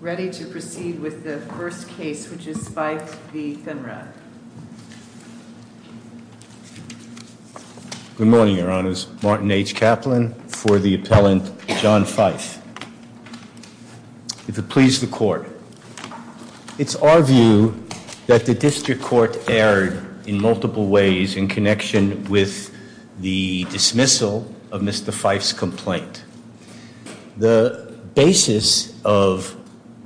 Ready to proceed with the first case, which is Fife v. Thinrad. Good morning, your honors. Martin H. Kaplan for the appellant John Fife. If it please the court, it's our view that the district court erred in multiple ways in the dismissal of Mr. Fife's complaint. The basis of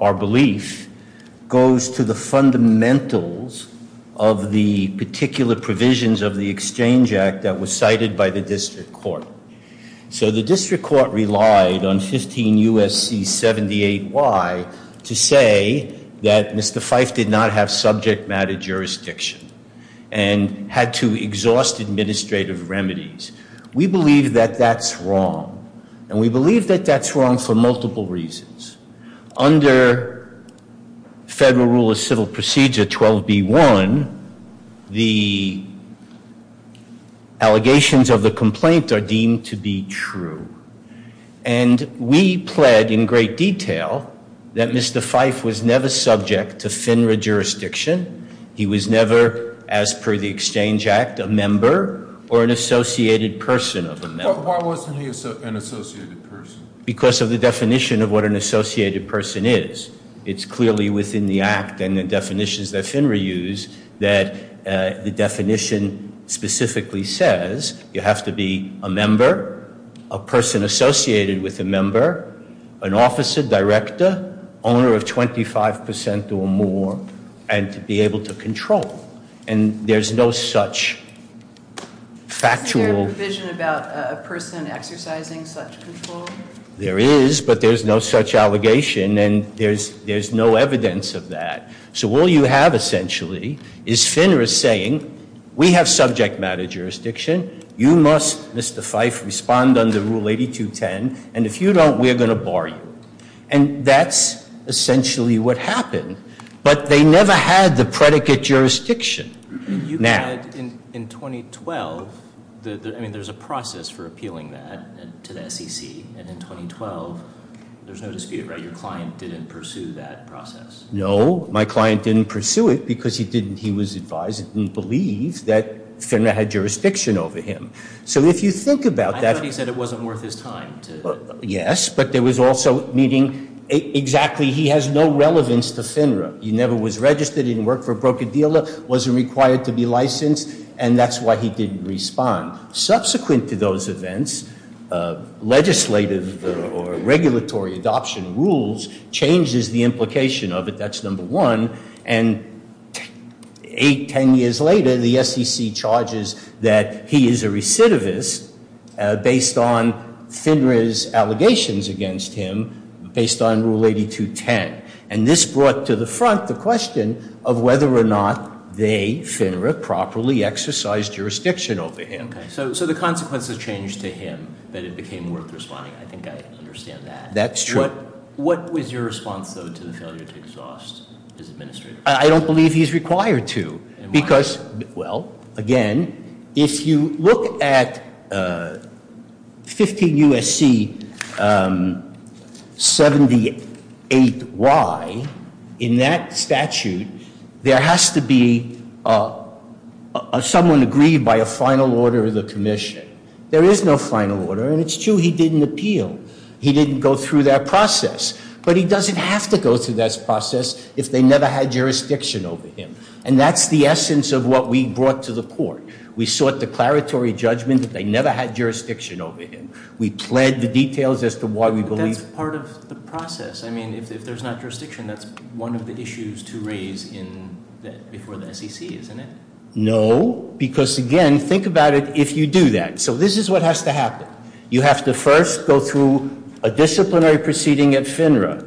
our belief goes to the fundamentals of the particular provisions of the exchange act that was cited by the district court. So the district court relied on 15 U.S.C. 78Y to say that Mr. Fife did not have subject matter jurisdiction and had to exhaust administrative remedies. We believe that that's wrong, and we believe that that's wrong for multiple reasons. Under federal rule of civil procedure 12 B1, the allegations of the complaint are deemed to be true. And we pled in great detail that Mr. Fife was never subject to FINRA jurisdiction. He was never, as per the exchange act, a member or an associated person of a member. Why wasn't he an associated person? Because of the definition of what an associated person is. It's clearly within the act and the definitions that FINRA use that the definition specifically says you have to be a member, a person associated with a member, an officer, director, owner of 25 percent or more, and to be able to control. And there's no such factual provision about a person exercising such control. There is, but there's no such allegation and there's no evidence of that. So all you have essentially is FINRA saying we have subject matter jurisdiction. You must, Mr. Fife, respond under rule 8210. And if you don't, we're going to bar you. And that's essentially what happened. But they never had the predicate jurisdiction. You said in 2012, I mean, there's a process for appealing that to the SEC. And in 2012, there's no dispute, right? Your client didn't pursue that process. No, my client didn't pursue it because he didn't, he was advised and believed that FINRA had jurisdiction over him. So if you think about that. I thought he said it wasn't worth his time. Yes, but there was also meaning exactly he has no relevance to FINRA. He never was registered, he didn't work for a broker dealer, wasn't required to be licensed, and that's why he didn't respond. Subsequent to those events, legislative or regulatory adoption rules changes the implication of it. That's number one. And eight, ten years later, the SEC charges that he is a recidivist based on FINRA's allegations against him based on rule 8210. And this brought to the front the question of whether or not they, FINRA, properly exercised jurisdiction over him. Okay, so the consequences changed to him that it became worth responding. I think I understand that. That's true. What was your response, though, to the failure to exhaust his administrator? I don't believe he's required to because, well, again, if you look at 15 U.S.C. 78Y, in that statute, there has to be someone agreed by a final order of the commission. There is no final order, and it's true he didn't appeal. He didn't go through that process, but he never had jurisdiction over him. And that's the essence of what we brought to the court. We sought declaratory judgment that they never had jurisdiction over him. We pled the details as to why we believe- That's part of the process. I mean, if there's not jurisdiction, that's one of the issues to raise before the SEC, isn't it? No, because, again, think about it if you do that. So this is what has to happen. You have to first go through a disciplinary proceeding at FINRA.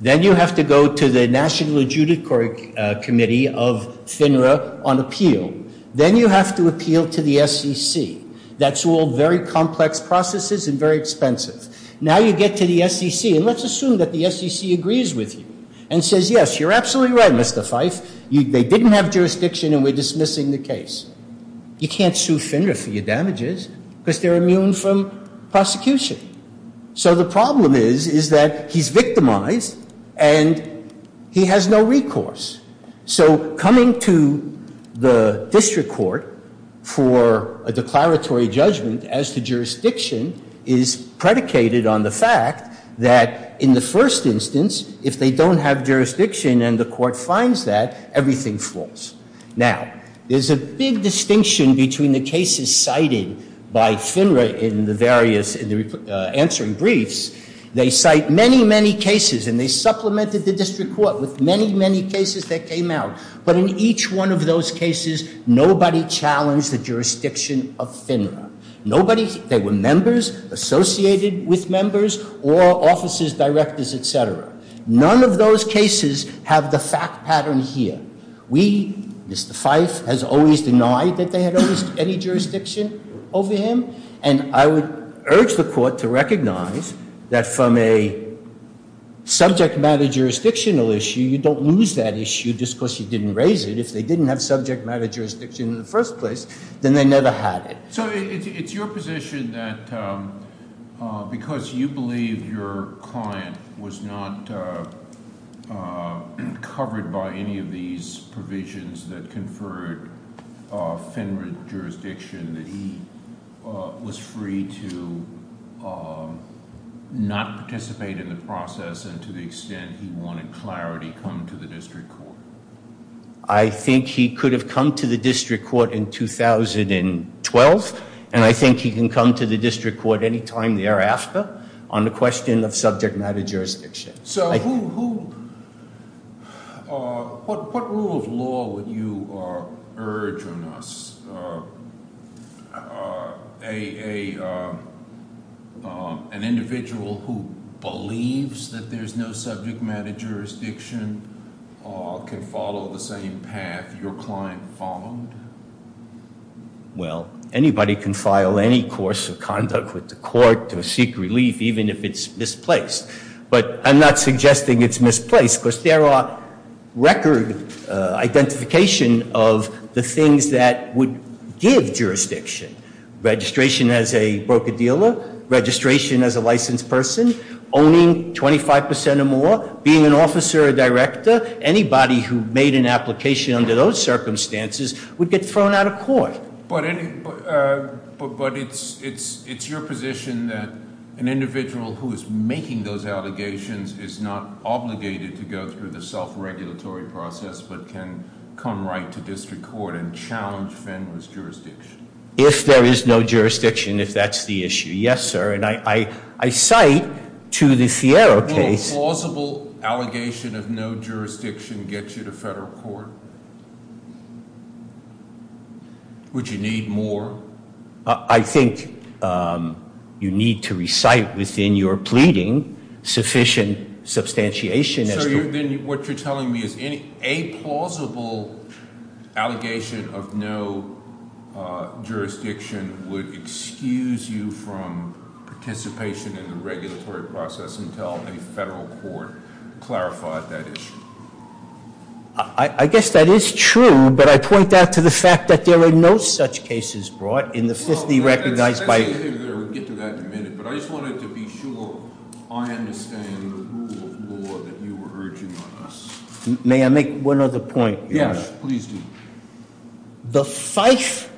Then you have to go to the National Adjudicatory Committee of FINRA on appeal. Then you have to appeal to the SEC. That's all very complex processes and very expensive. Now you get to the SEC, and let's assume that the SEC agrees with you and says, yes, you're absolutely right, Mr. Fife. They didn't have jurisdiction, and we're dismissing the case. You can't sue FINRA for your and he has no recourse. So coming to the district court for a declaratory judgment as to jurisdiction is predicated on the fact that in the first instance, if they don't have jurisdiction and the court finds that, everything falls. Now, there's a big distinction between the cases cited by FINRA in the various, in the answering briefs. They cite many, many cases and they supplemented the district court with many, many cases that came out. But in each one of those cases, nobody challenged the jurisdiction of FINRA. Nobody, they were members associated with members or offices, directors, etc. None of those cases have the fact pattern here. We, Mr. Fife, has always denied that they had any jurisdiction over him, and I would urge the court to recognize that from a subject matter jurisdictional issue, you don't lose that issue just because you didn't raise it. If they didn't have subject matter jurisdiction in the first place, then they never had it. So it's your position that because you believe your client was not covered by any of these provisions that conferred FINRA jurisdiction, that he was free to not participate in the process and to the extent he wanted clarity come to the district court? I think he could have come to the district court in 2012, and I think he can come to the district court any time thereafter on the question of subject matter jurisdiction. So who, what rule of law would you urge on us? An individual who believes that there's no subject matter jurisdiction can follow the same path your client followed? Well, anybody can file any course of conduct with the court to seek relief, even if it's misplaced. But I'm not suggesting it's misplaced, because there are record identification of the things that would give jurisdiction. Registration as a broker-dealer, registration as a licensed person, owning 25% or more, being an officer or director, anybody who made an application under those circumstances would get thrown out of court. But it's your position that an individual who is making those allegations is not obligated to go through the self-regulatory process, but can come right to district court and challenge FINRA's jurisdiction? If there is no jurisdiction, if that's the issue, yes sir. And I cite to the FIERRO case- Will a plausible allegation of no jurisdiction get you to federal court? Would you need more? I think you need to recite within your pleading sufficient substantiation. So what you're telling me is a plausible allegation of no jurisdiction would excuse you from participation in the regulatory process until a federal court clarified that issue. I guess that is true, but I point out to the fact that there are no such cases brought in the 50 recognized by- We'll get to that in a minute, but I just wanted to be sure I understand the rule of law that you were urging on us. May I make one other point? Yes, please do. The FIFE,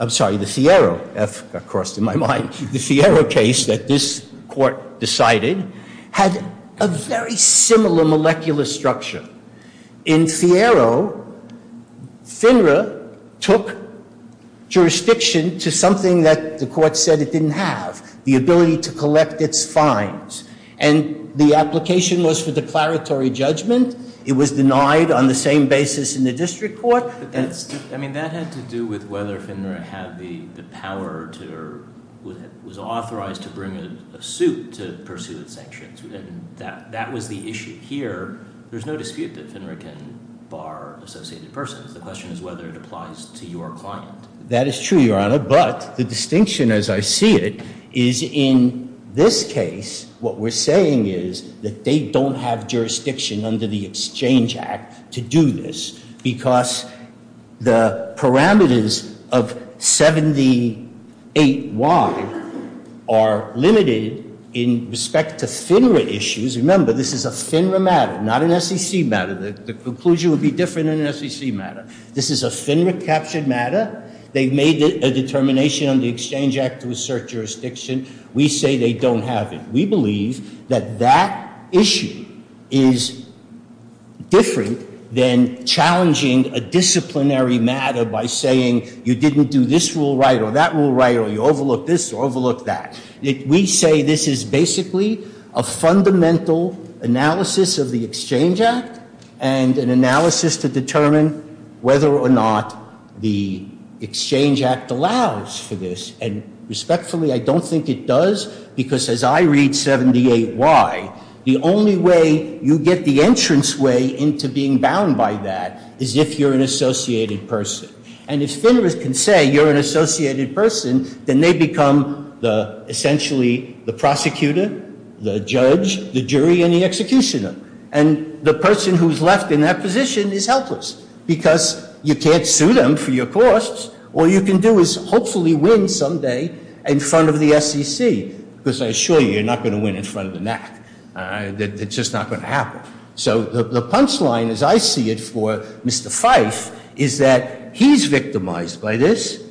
I'm sorry, the FIERRO, F got crossed in my mind, the FIERRO case that this court decided had a very similar molecular structure. In FIERRO, FINRA took jurisdiction to something that the court said it didn't have, the ability to collect its fines. And the application was for declaratory judgment. It was denied on the same basis in the district court. I mean that had to do with whether FINRA had the power to or was authorized to bring a suit to pursue its sanctions. And that was the issue here. There's no dispute that FINRA can bar associated persons. The question is whether it applies to your client. That is true, Your Honor, but the distinction as I see it is in this case what we're saying is that they don't have jurisdiction under the Exchange Act to do this because the parameters of 78Y are limited in respect to FINRA issues. Remember, this is a FINRA matter, not an SEC matter. The conclusion would be different in an SEC matter. This is a FINRA captured matter. They've made a determination on the Exchange Act to assert jurisdiction. We say they don't have it. We believe that that issue is different than challenging a disciplinary matter by saying you didn't do this rule right or that rule right or you overlooked this or overlooked that. We say this is basically a fundamental analysis of the Exchange Act and an analysis to because as I read 78Y, the only way you get the entranceway into being bound by that is if you're an associated person. And if FINRA can say you're an associated person, then they become essentially the prosecutor, the judge, the jury, and the executioner. And the person who's left in that position is helpless because you can't sue them for your costs. All you can do is hopefully win someday in front of the SEC because I assure you, you're not going to win in front of the NAC. That's just not going to happen. So the punchline as I see it for Mr. Fife is that he's victimized by this.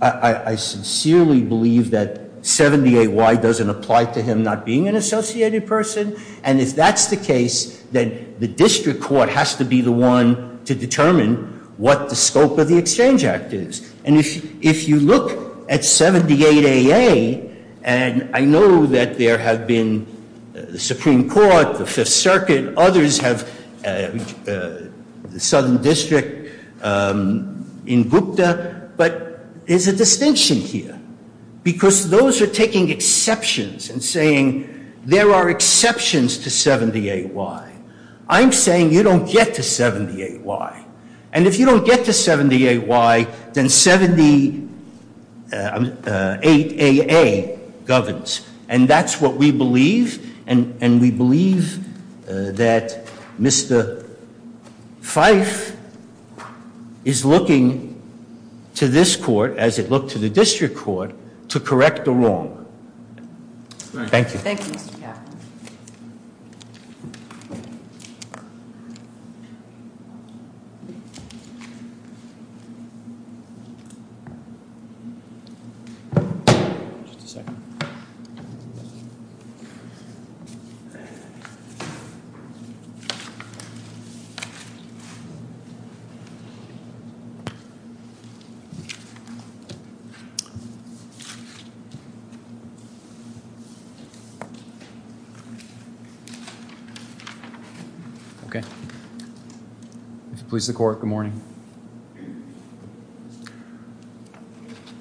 I sincerely believe that 78Y doesn't apply to him not being an associated person. And if that's the case, then the district court has to be the one to determine what the scope of the Exchange Act is. And if you look at 78AA and I know that there have been the Supreme Court, the Fifth Circuit, others have the Southern District in Gupta, but there's a distinction here because those are taking exceptions and saying there are exceptions to 78Y. I'm saying you don't get to 78Y. And if you don't get to 78Y, then 78AA governs. And that's what we believe. And we believe that Mr. Fife is looking to this court as it looked to the district court to correct the wrong. Thank you.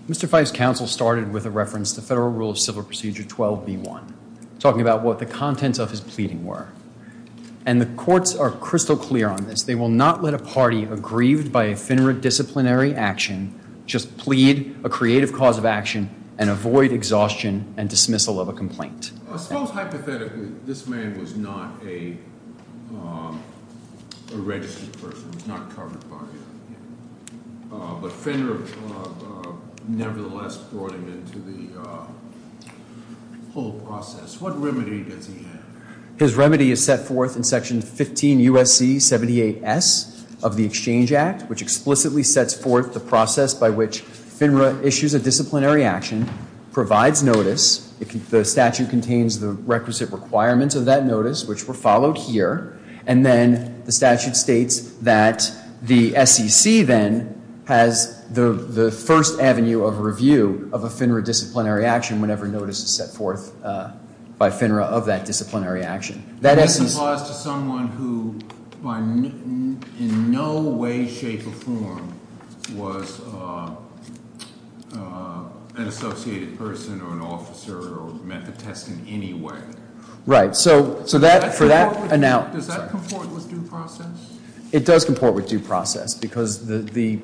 Mr. Fife's counsel started with a reference to Federal Rule of Civil Procedure 12b1, talking about what the contents of his pleading were. And the courts are crystal clear on this. They will not let a party aggrieved by a finerate disciplinary action just plead a creative cause of action and avoid exhaustion and dismissal of a complaint. I suppose hypothetically, this man was not a registered person. He was not covered by it. But FINRA nevertheless brought him into the whole process. What remedy does he have? His remedy is set forth in Section 15 U.S.C. 78S of the Exchange Act, which explicitly sets forth the process by which FINRA issues a disciplinary action, provides notice. The statute contains the requisite requirements of that notice, which were followed here. And then the statute states that the SEC then has the first avenue of review of a FINRA disciplinary action whenever notice is set forth by FINRA of that disciplinary action. That is to someone who in no way, shape, or form was an associated person or an officer or met the test in any way. Right. So that for that. And now does that comport with due process? It does comport with due process because the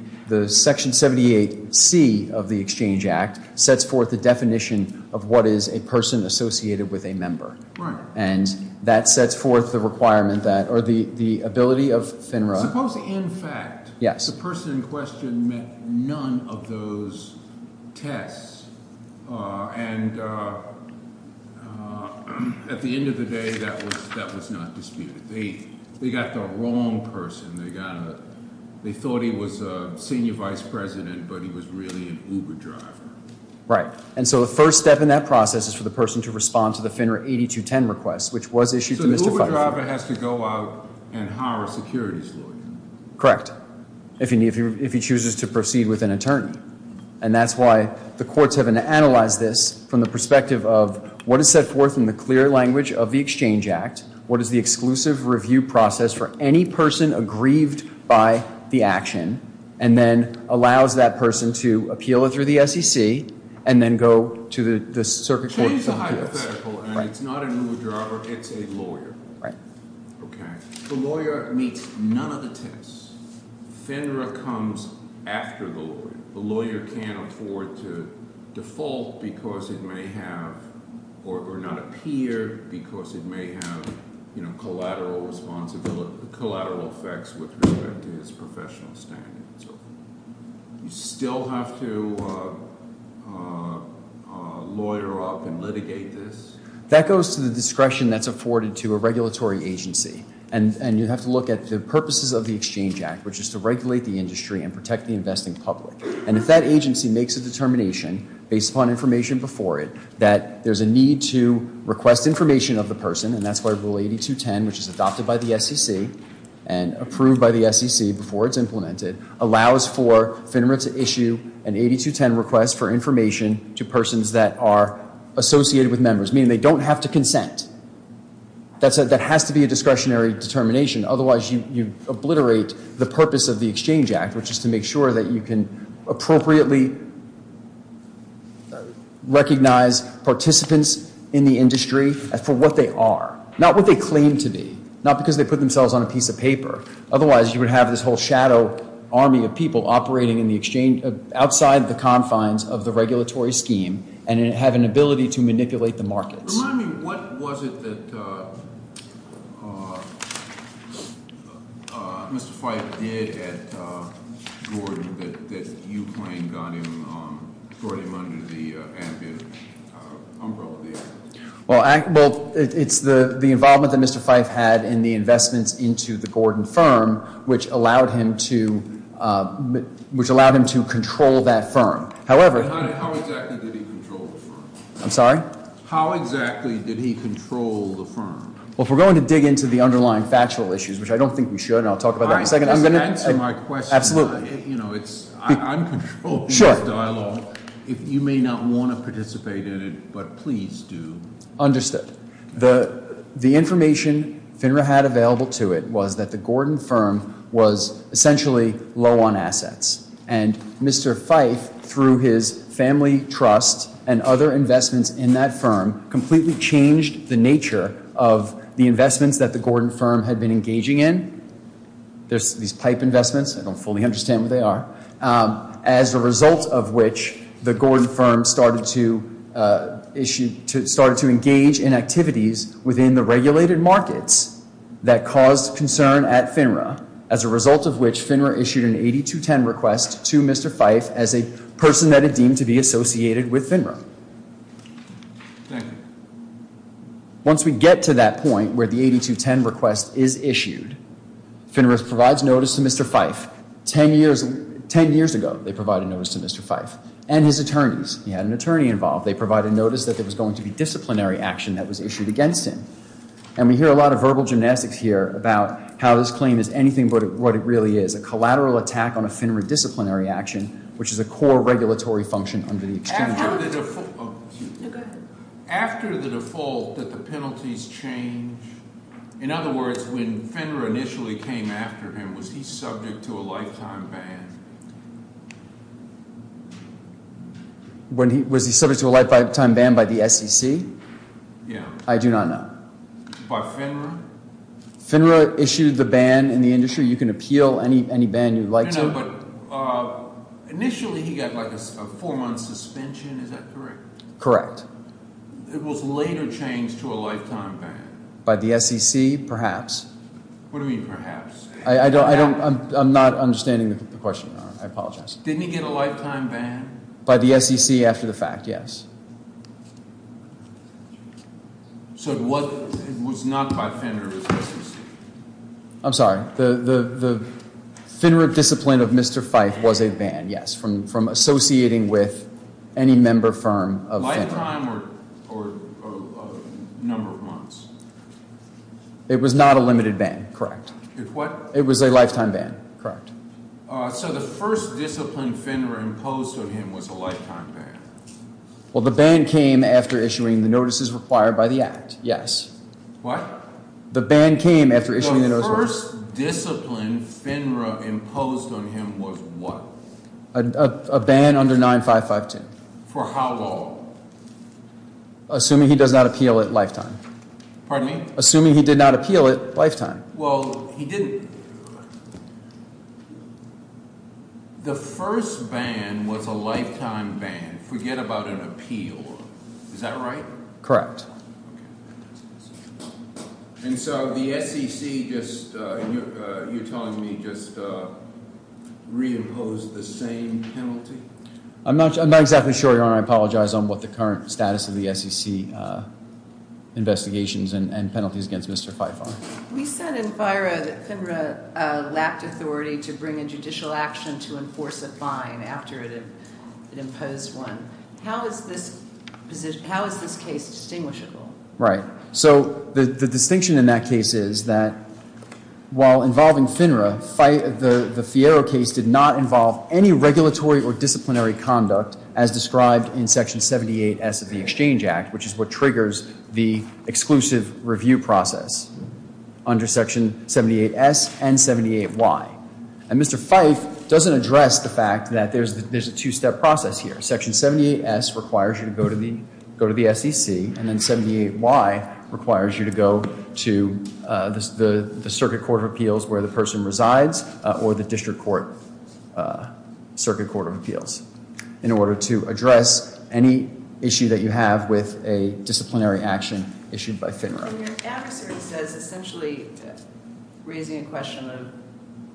Section 78C of the Exchange Act sets forth the that sets forth the requirement that or the ability of FINRA. Supposing in fact the person in question met none of those tests and at the end of the day that was not disputed. They got the wrong person. They thought he was a senior vice president, but he was really an Uber driver. Right. And so the first step in that process is for the person to respond to the FINRA 8210 request, which was issued to Mr. Feiffer. So the Uber driver has to go out and hire a security lawyer? Correct. If you need, if he chooses to proceed with an attorney. And that's why the courts have analyzed this from the perspective of what is set forth in the clear language of the Exchange Act. What is the exclusive review process for any person aggrieved by the action? And then allows that person to appeal it through the SEC and then go to the circuit court. Change the driver. It's a lawyer. Right. Okay. The lawyer meets none of the tests. FINRA comes after the lawyer. The lawyer can't afford to default because it may have or not appear because it may have, you know, collateral responsibility, collateral effects with respect to his professional standing. So you still have to lawyer up and litigate this? That goes to the discretion that's afforded to a regulatory agency. And you have to look at the purposes of the Exchange Act, which is to regulate the industry and protect the investing public. And if that agency makes a determination based upon information before it, that there's a need to request information of the person, and that's why Rule 8210, which is adopted by the SEC and approved by the SEC before it's implemented, allows for FINRA to issue an 8210 request for information to persons that are associated with members, meaning they don't have to consent. That has to be a discretionary determination. Otherwise, you obliterate the purpose of the Exchange Act, which is to make sure that you can appropriately recognize participants in the industry for what they are, not what they claim to be, not because they put themselves on a piece of paper. Otherwise, you would have this whole shadow army of people operating outside the confines of the regulatory scheme and have an ability to manipulate the markets. Remind me, what was it that Mr. Fife did at Gordon that you claim brought him under the ambit of the Act? Well, it's the involvement that Mr. Fife had in the investments into the Gordon firm, which allowed him to control that firm. How exactly did he control the firm? I'm sorry? How exactly did he control the firm? Well, if we're going to dig into the underlying factual issues, which I don't think we should, and I'll talk about that in a second. Just answer my question. Absolutely. You know, I'm controlling this dialogue. If you may not want to participate in it, but please do. Understood. The information FINRA had available to it was that the Gordon firm was essentially low on assets. And Mr. Fife, through his family trust and other investments in that firm, completely changed the nature of the investments that the Gordon firm had been engaging in. There's these pipe investments. I don't fully understand what they are. As a result of which, the Gordon firm started to engage in activities within the regulated markets that caused concern at FINRA. As a result of which, FINRA issued an 8210 request to Mr. Fife as a person that it deemed to be associated with FINRA. Once we get to that point where the 8210 request is issued, FINRA provides notice to Mr. Fife. Ten years ago, they provided notice to Mr. Fife. And his attorneys. He had an attorney involved. They provided notice that there was going to be disciplinary action that was issued against him. And we hear a lot of verbal gymnastics here about how this claim is anything but what it really is. A collateral attack on a FINRA disciplinary action, which is a core regulatory function under the extension. After the default that the penalties change, in other words, when FINRA initially came after him, was he subject to a lifetime ban? Was he subject to a lifetime ban by the SEC? Yeah. I do not know. By FINRA? FINRA issued the ban in the industry. You can appeal any ban you'd like to. Initially, he got like a four month suspension. Is that correct? Correct. It was later changed to a lifetime ban. By the SEC, perhaps. What do you mean perhaps? I'm not understanding the question, Your Honor. I apologize. Didn't he get a lifetime ban? By the SEC after the fact, yes. So it was not by FINRA. I'm sorry. The FINRA discipline of Mr. Fife was a ban, yes. From associating with any member firm of FINRA. Lifetime or number of months? It was not a limited ban. Correct. It was a lifetime ban. Correct. So the first discipline FINRA imposed on him was a lifetime ban? Well, the ban came after issuing the notices required by the act. Yes. What? The ban came after issuing the notice. The first discipline FINRA imposed on him was what? A ban under 9552. For how long? Assuming he does not appeal it lifetime. Pardon me? Assuming he did not appeal it lifetime. Well, he didn't. The first ban was a lifetime ban. Forget about an appeal. Is that right? Correct. And so the SEC just, you're telling me, just reimposed the same penalty? I'm not exactly sure, Your Honor. I apologize on what the current status of the SEC investigations and penalties against Mr. Fife are. We said in FIRA that FINRA lacked authority to bring a judicial action to enforce a fine after it imposed one. How is this case distinguishable? Right. So the distinction in that case is that while involving FINRA, the FIARA case did not involve any regulatory or disciplinary conduct as described in Section 78S of the Exchange Act, which is what triggers the exclusive review process. Under Section 78S and 78Y. And Mr. Fife doesn't address the fact that there's a two-step process here. Section 78S requires you to go to the SEC. And then 78Y requires you to go to the Circuit Court of Appeals where the person resides or the District Court Circuit Court of Appeals in order to address any issue that you have with a disciplinary action issued by FINRA. Your adversary says essentially raising a question of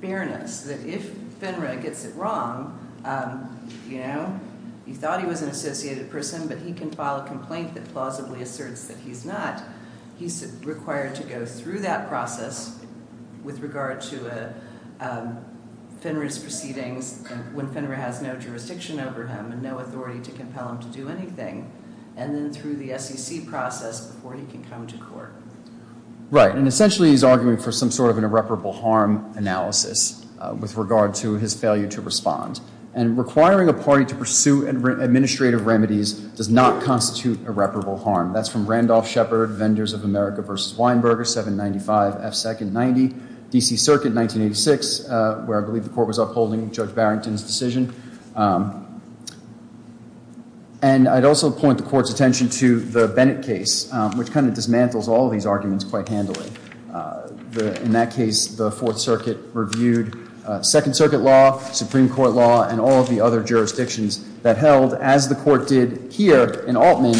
fairness, that if FINRA gets it wrong, you know, he thought he was an associated person, but he can file a complaint that plausibly asserts that he's not, he's required to go through that process with regard to FINRA's proceedings when FINRA has no jurisdiction over him and no authority to compel him to court. Right. And essentially he's arguing for some sort of an irreparable harm analysis with regard to his failure to respond. And requiring a party to pursue administrative remedies does not constitute irreparable harm. That's from Randolph Shepard, Vendors of America v. Weinberger, 795F290, DC Circuit, 1986, where I believe the court was upholding Judge Barrington's decision. And I'd also point the court's attention to the Bennett case, which kind of dismantles all of these arguments quite handily. In that case, the Fourth Circuit reviewed Second Circuit law, Supreme Court law, and all of the other jurisdictions that held, as the court did here in Altman,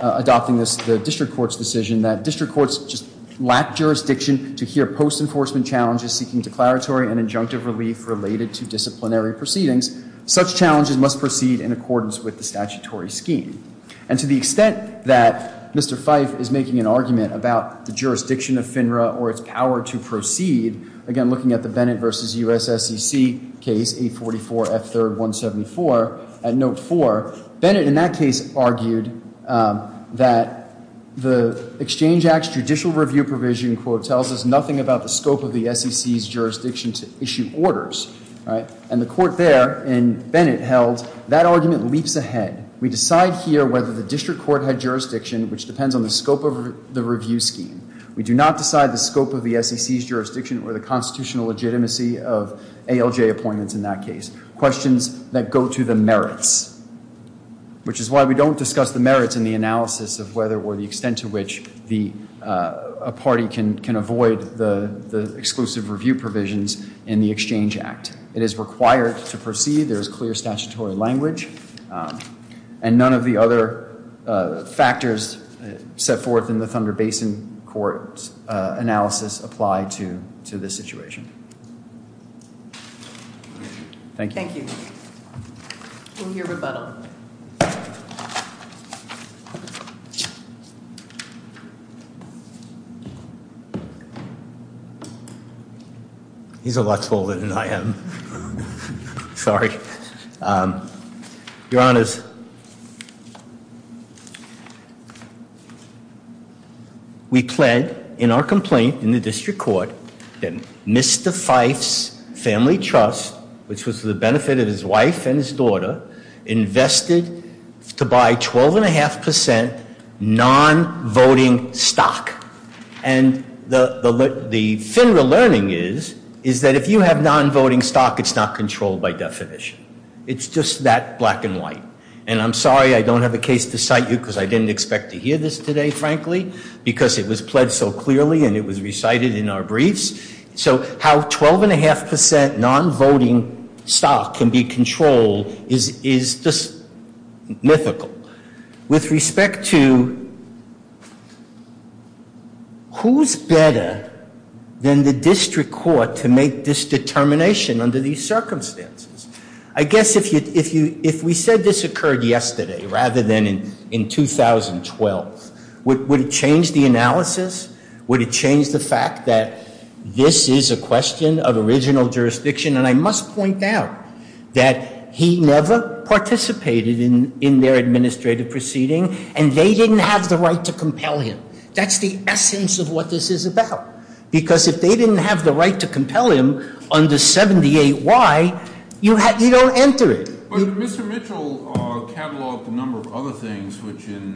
adopting this, the District Court's decision that District Courts just lack jurisdiction to hear post-enforcement challenges seeking declaratory and injunctive relief related to disciplinary proceedings. Such challenges must proceed in accordance with the statutory scheme. And to the extent that Mr. Fife is making an argument about the jurisdiction of FINRA or its power to proceed, again looking at the Bennett v. USSEC case, 844F3174, at note 4, Bennett in that case argued that the Exchange Act's judicial review provision, quote, and the court there in Bennett held that argument leaps ahead. We decide here whether the District Court had jurisdiction, which depends on the scope of the review scheme. We do not decide the scope of the SEC's jurisdiction or the constitutional legitimacy of ALJ appointments in that case. Questions that go to the merits, which is why we don't discuss the merits in the analysis of whether or the extent to which a party can avoid the exclusive review provisions in the Exchange Act. It is required to proceed. There is clear statutory language. And none of the other factors set forth in the Thunder Basin Court's analysis apply to this situation. Thank you. Thank you. We'll hear rebuttal. Your Honor, he's a lot taller than I am. Sorry. Your Honors, we plead in our complaint in the District Court that Mr. Fife's family trust, which was for the benefit of his wife and his daughter, invested to buy 12.5% non-voting stock. And the FINRA learning is that if you have non-voting stock, it's not controlled by definition. It's just that black and white. And I'm sorry I don't have a case to cite you because I didn't expect to hear this today, frankly, because it was pledged so clearly and it was recited in our briefs. So how 12.5% non-voting stock can be controlled is just mythical. With respect to who's better than the District Court to make this determination under these circumstances? I guess if we said this occurred yesterday rather than in 2012, would it change the analysis? Would it change the fact that this is a question of original jurisdiction? And I must point out that he never participated in their administrative proceeding and they didn't have the right to compel him. That's the essence of what this is about. Because if they didn't have the right to compel him under 78Y, you don't enter it. But Mr. Mitchell cataloged a number of other things which in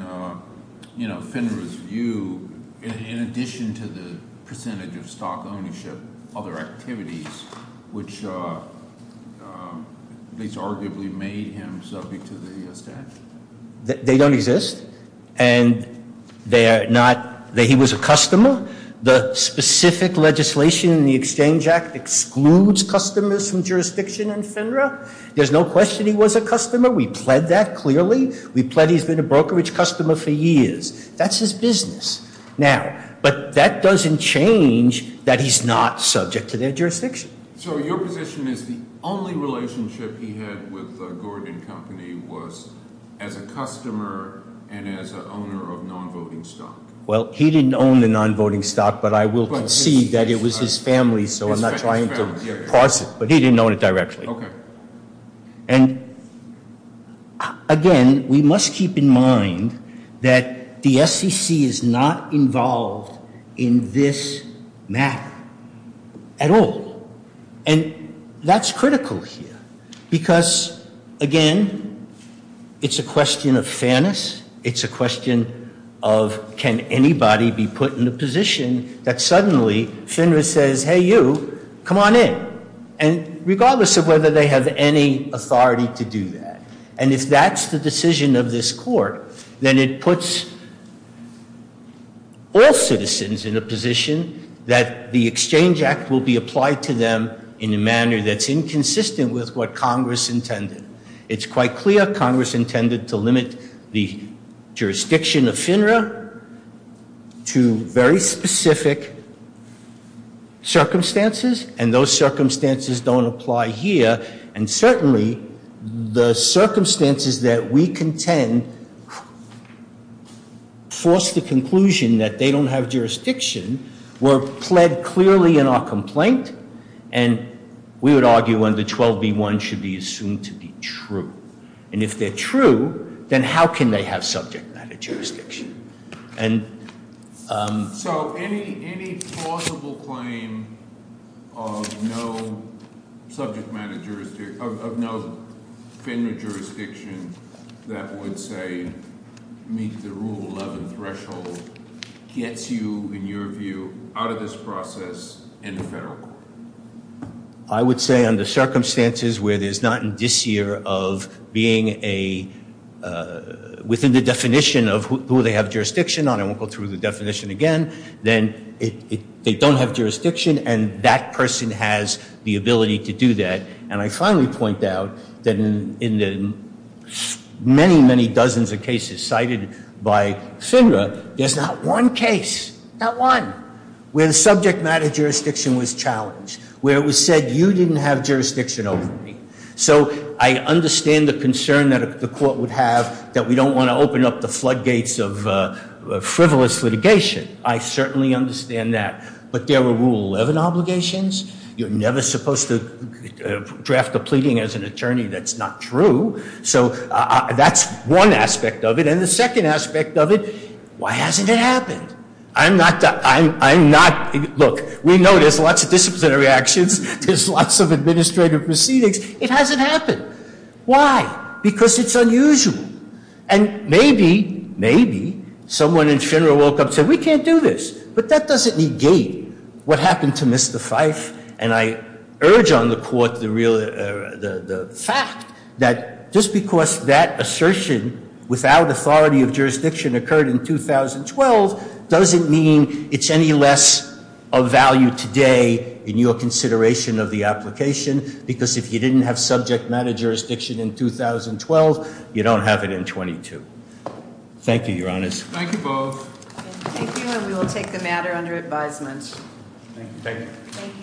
FINRA's view, in addition to the percentage of stock ownership, other activities, which at least arguably made him subject to the statute. They don't exist. And they are not, he was a customer. The specific legislation in the Exchange Act excludes customers from jurisdiction in FINRA. There's no question he was a customer. We pled that clearly. We pled he's been a brokerage customer for years. That's his business. Now, but that doesn't change that he's not subject to their jurisdiction. So your position is the only relationship he had with Gordon Company was as a customer and as an owner of non-voting stock? Well, he didn't own the non-voting stock, but I will concede that it was his family. So I'm not trying to parse it, but he didn't own it directly. Okay. And again, we must keep in mind that the SEC is not involved in this matter at all. And that's critical here because again, it's a question of fairness. It's a question of can anybody be put in a position that suddenly FINRA says, hey you, come on in. And regardless of whether they have any authority to do that, and if that's the decision of this Court, then it puts all citizens in a position that the Exchange Act will be applied to them in a manner that's inconsistent with what Congress intended. It's quite clear Congress intended to limit the jurisdiction of FINRA to very specific circumstances, and those circumstances don't apply here. And certainly, the circumstances that we contend force the conclusion that they don't have jurisdiction were pled clearly in our complaint. And we would argue under 12b1 should be assumed to be true. And if they're true, then how can they have subject matter jurisdiction? And... So any plausible claim of no subject matter jurisdiction, of no FINRA jurisdiction that would say meet the Rule 11 threshold gets you, in your view, out of this process in the federal court? I would say under circumstances where there's not in this year of being a, within the definition of who they have jurisdiction on, I won't go through the definition again, then they don't have jurisdiction and that person has the ability to do that. And I finally point out that in the many, many dozens of cases cited by FINRA, there's not one case, not one, where the subject matter jurisdiction was challenged, where it was said you didn't have jurisdiction over me. So I understand the concern that the court would have that we don't want to open up the floodgates of frivolous litigation. I certainly understand that. But there were Rule 11 obligations. You're never supposed to draft a pleading as an attorney that's not true. So that's one aspect of it. And the second aspect of it, why hasn't it happened? I'm not, look, we know there's lots of disciplinary actions. There's lots of administrative proceedings. It hasn't happened. Why? Because it's unusual. And maybe, maybe someone in FINRA woke up and said, we can't do this. But that doesn't negate what happened to Mr. Fife. And I urge on the court the fact that just because that assertion without authority of jurisdiction occurred in 2012 doesn't mean it's any less of value today in your consideration of the application. Because if you didn't have subject matter jurisdiction in 2012, you don't have it in 22. Thank you, Your Honors. Thank you both. Thank you. And we will take the matter under advisement. Thank you. Thank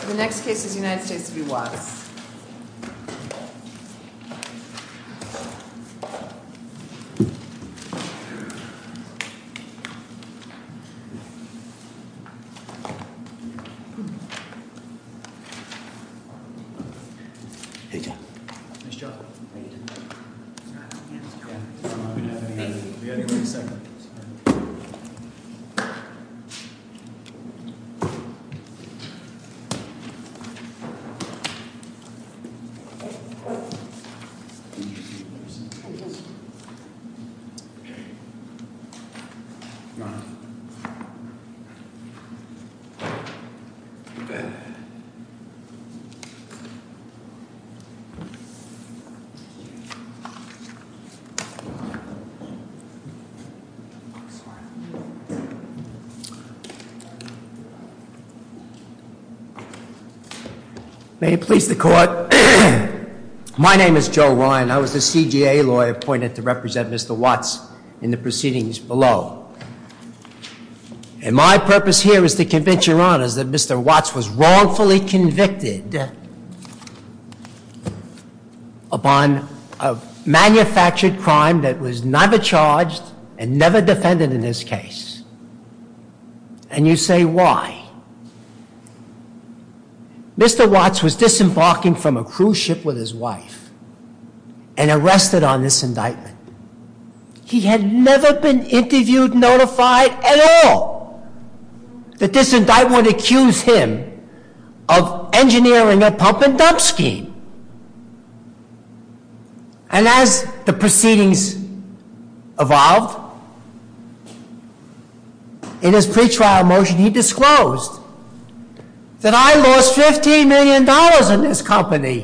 you. The next case is United States v. Watts. Hey, John. Nice job. Thank you. Do we have anybody second? I'm sorry. May it please the court. My name is Joe Ryan. I was the CGA lawyer appointed to represent Mr. Watts in the proceedings below. And my purpose here is to convince Your Honors that Mr. Watts was wrongfully convicted upon a manufactured crime that was never charged and never defended in this case. And you say, why? Mr. Watts was disembarking from a cruise ship with his wife and arrested on this indictment. He had never been interviewed, notified at all that this indictment would accuse him of engineering a pump and dump scheme. And as the proceedings evolved, in his pretrial motion, he disclosed that I lost $15 million in this company.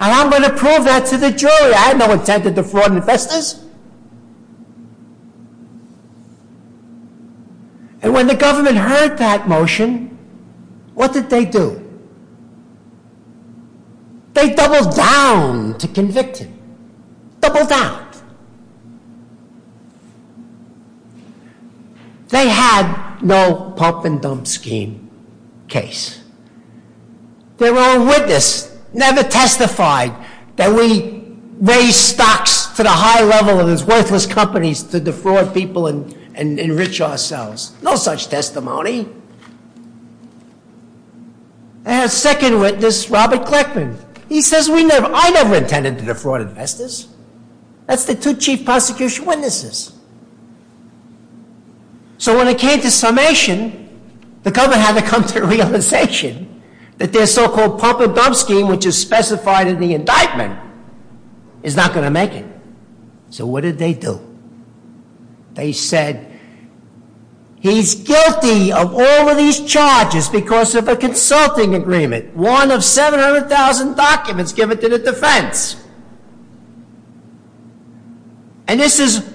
And I'm going to prove that to the jury. I had no intent to defraud investors. And when the government heard that motion, what did they do? They doubled down to convict him. Doubled down. They had no pump and dump scheme case. Their own witness never testified that we raised stocks to the high level of these worthless companies to defraud people and enrich ourselves. No such testimony. They had a second witness, Robert Kleckman. He says, I never intended to defraud investors. That's the two chief prosecution witnesses. So when it came to summation, the government had to come to the realization that their so-called pump and dump scheme, which is specified in the indictment, is not going to make it. So what did they do? They said, he's guilty of all of these charges because of a consulting agreement. One of 700,000 documents given to the defense. And this is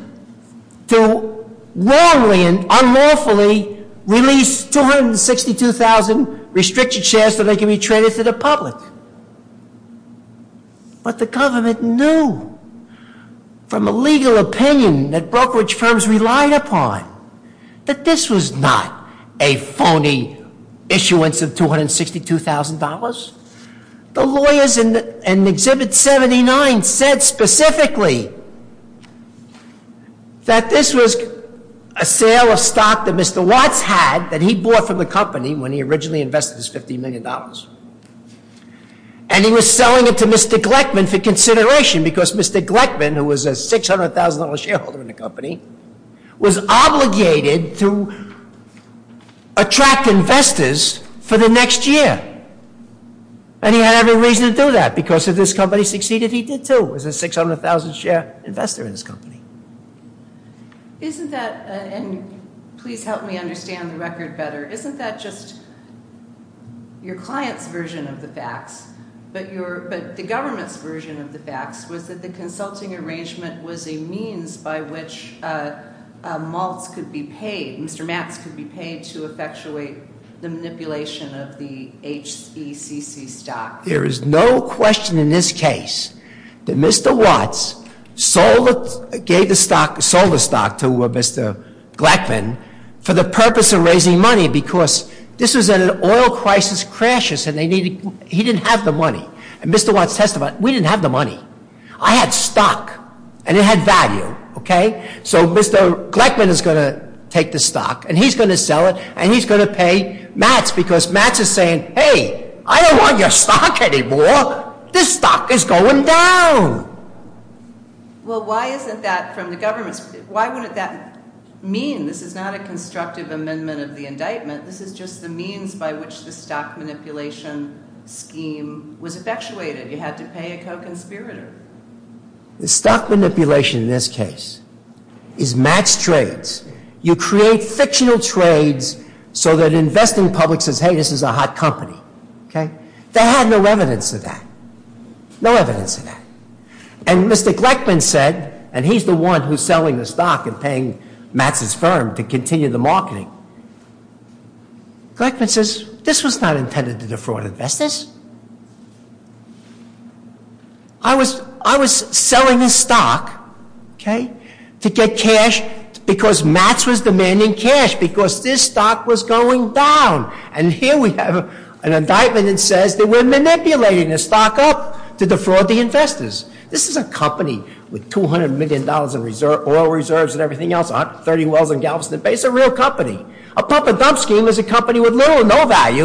to wrongly and unlawfully release 262,000 restricted shares so they can be traded to the public. But the government knew from a legal opinion that brokerage firms relied upon that this was not a phony issuance of $262,000. The lawyers in Exhibit 79 said specifically that this was a sale of stock that Mr. Watts had that he bought from the company when he originally invested his $50 million. And he was selling it to Mr. Kleckman for consideration because Mr. Kleckman, who was a $600,000 shareholder in the company, was obligated to attract investors for the next year. And he had every reason to do that because if this company succeeded, he did too. He was a 600,000 share investor in this company. Isn't that, and please help me understand the record better. Isn't that just your client's version of the facts? But the government's version of the facts was that the consulting arrangement was a means by which Mr. Max could be paid to effectuate the manipulation of the HECC stock. There is no question in this case that Mr. Watts gave the stock, sold the stock to Mr. Gleckman for the purpose of raising money because this was an oil crisis crisis and he didn't have the money. And Mr. Watts testified, we didn't have the money. I had stock and it had value, okay? So Mr. Gleckman is going to take the stock and he's going to sell it and he's going to pay Max because Max is saying, hey, I don't want your stock anymore. This stock is going down. Well, why isn't that from the government's, why wouldn't that mean this is not a constructive amendment of the indictment. This is just the means by which the stock manipulation scheme was effectuated. You had to pay a co-conspirator. The stock manipulation in this case is match trades. You create fictional trades so that investing public says, hey, this is a hot company, okay? They had no evidence of that, no evidence of that. And Mr. Gleckman said, and he's the one who's selling the stock and paying Max's firm to continue the marketing. Gleckman says, this was not intended to defraud investors. I was selling this stock, okay, to get cash because Max was demanding cash because this stock was going down. And here we have an indictment that says that we're manipulating the stock up to defraud the investors. This is a company with $200 million in oil reserves and everything else, 130 wells and gallops in the base, a real company. A proper dump scheme is a company with little or no value.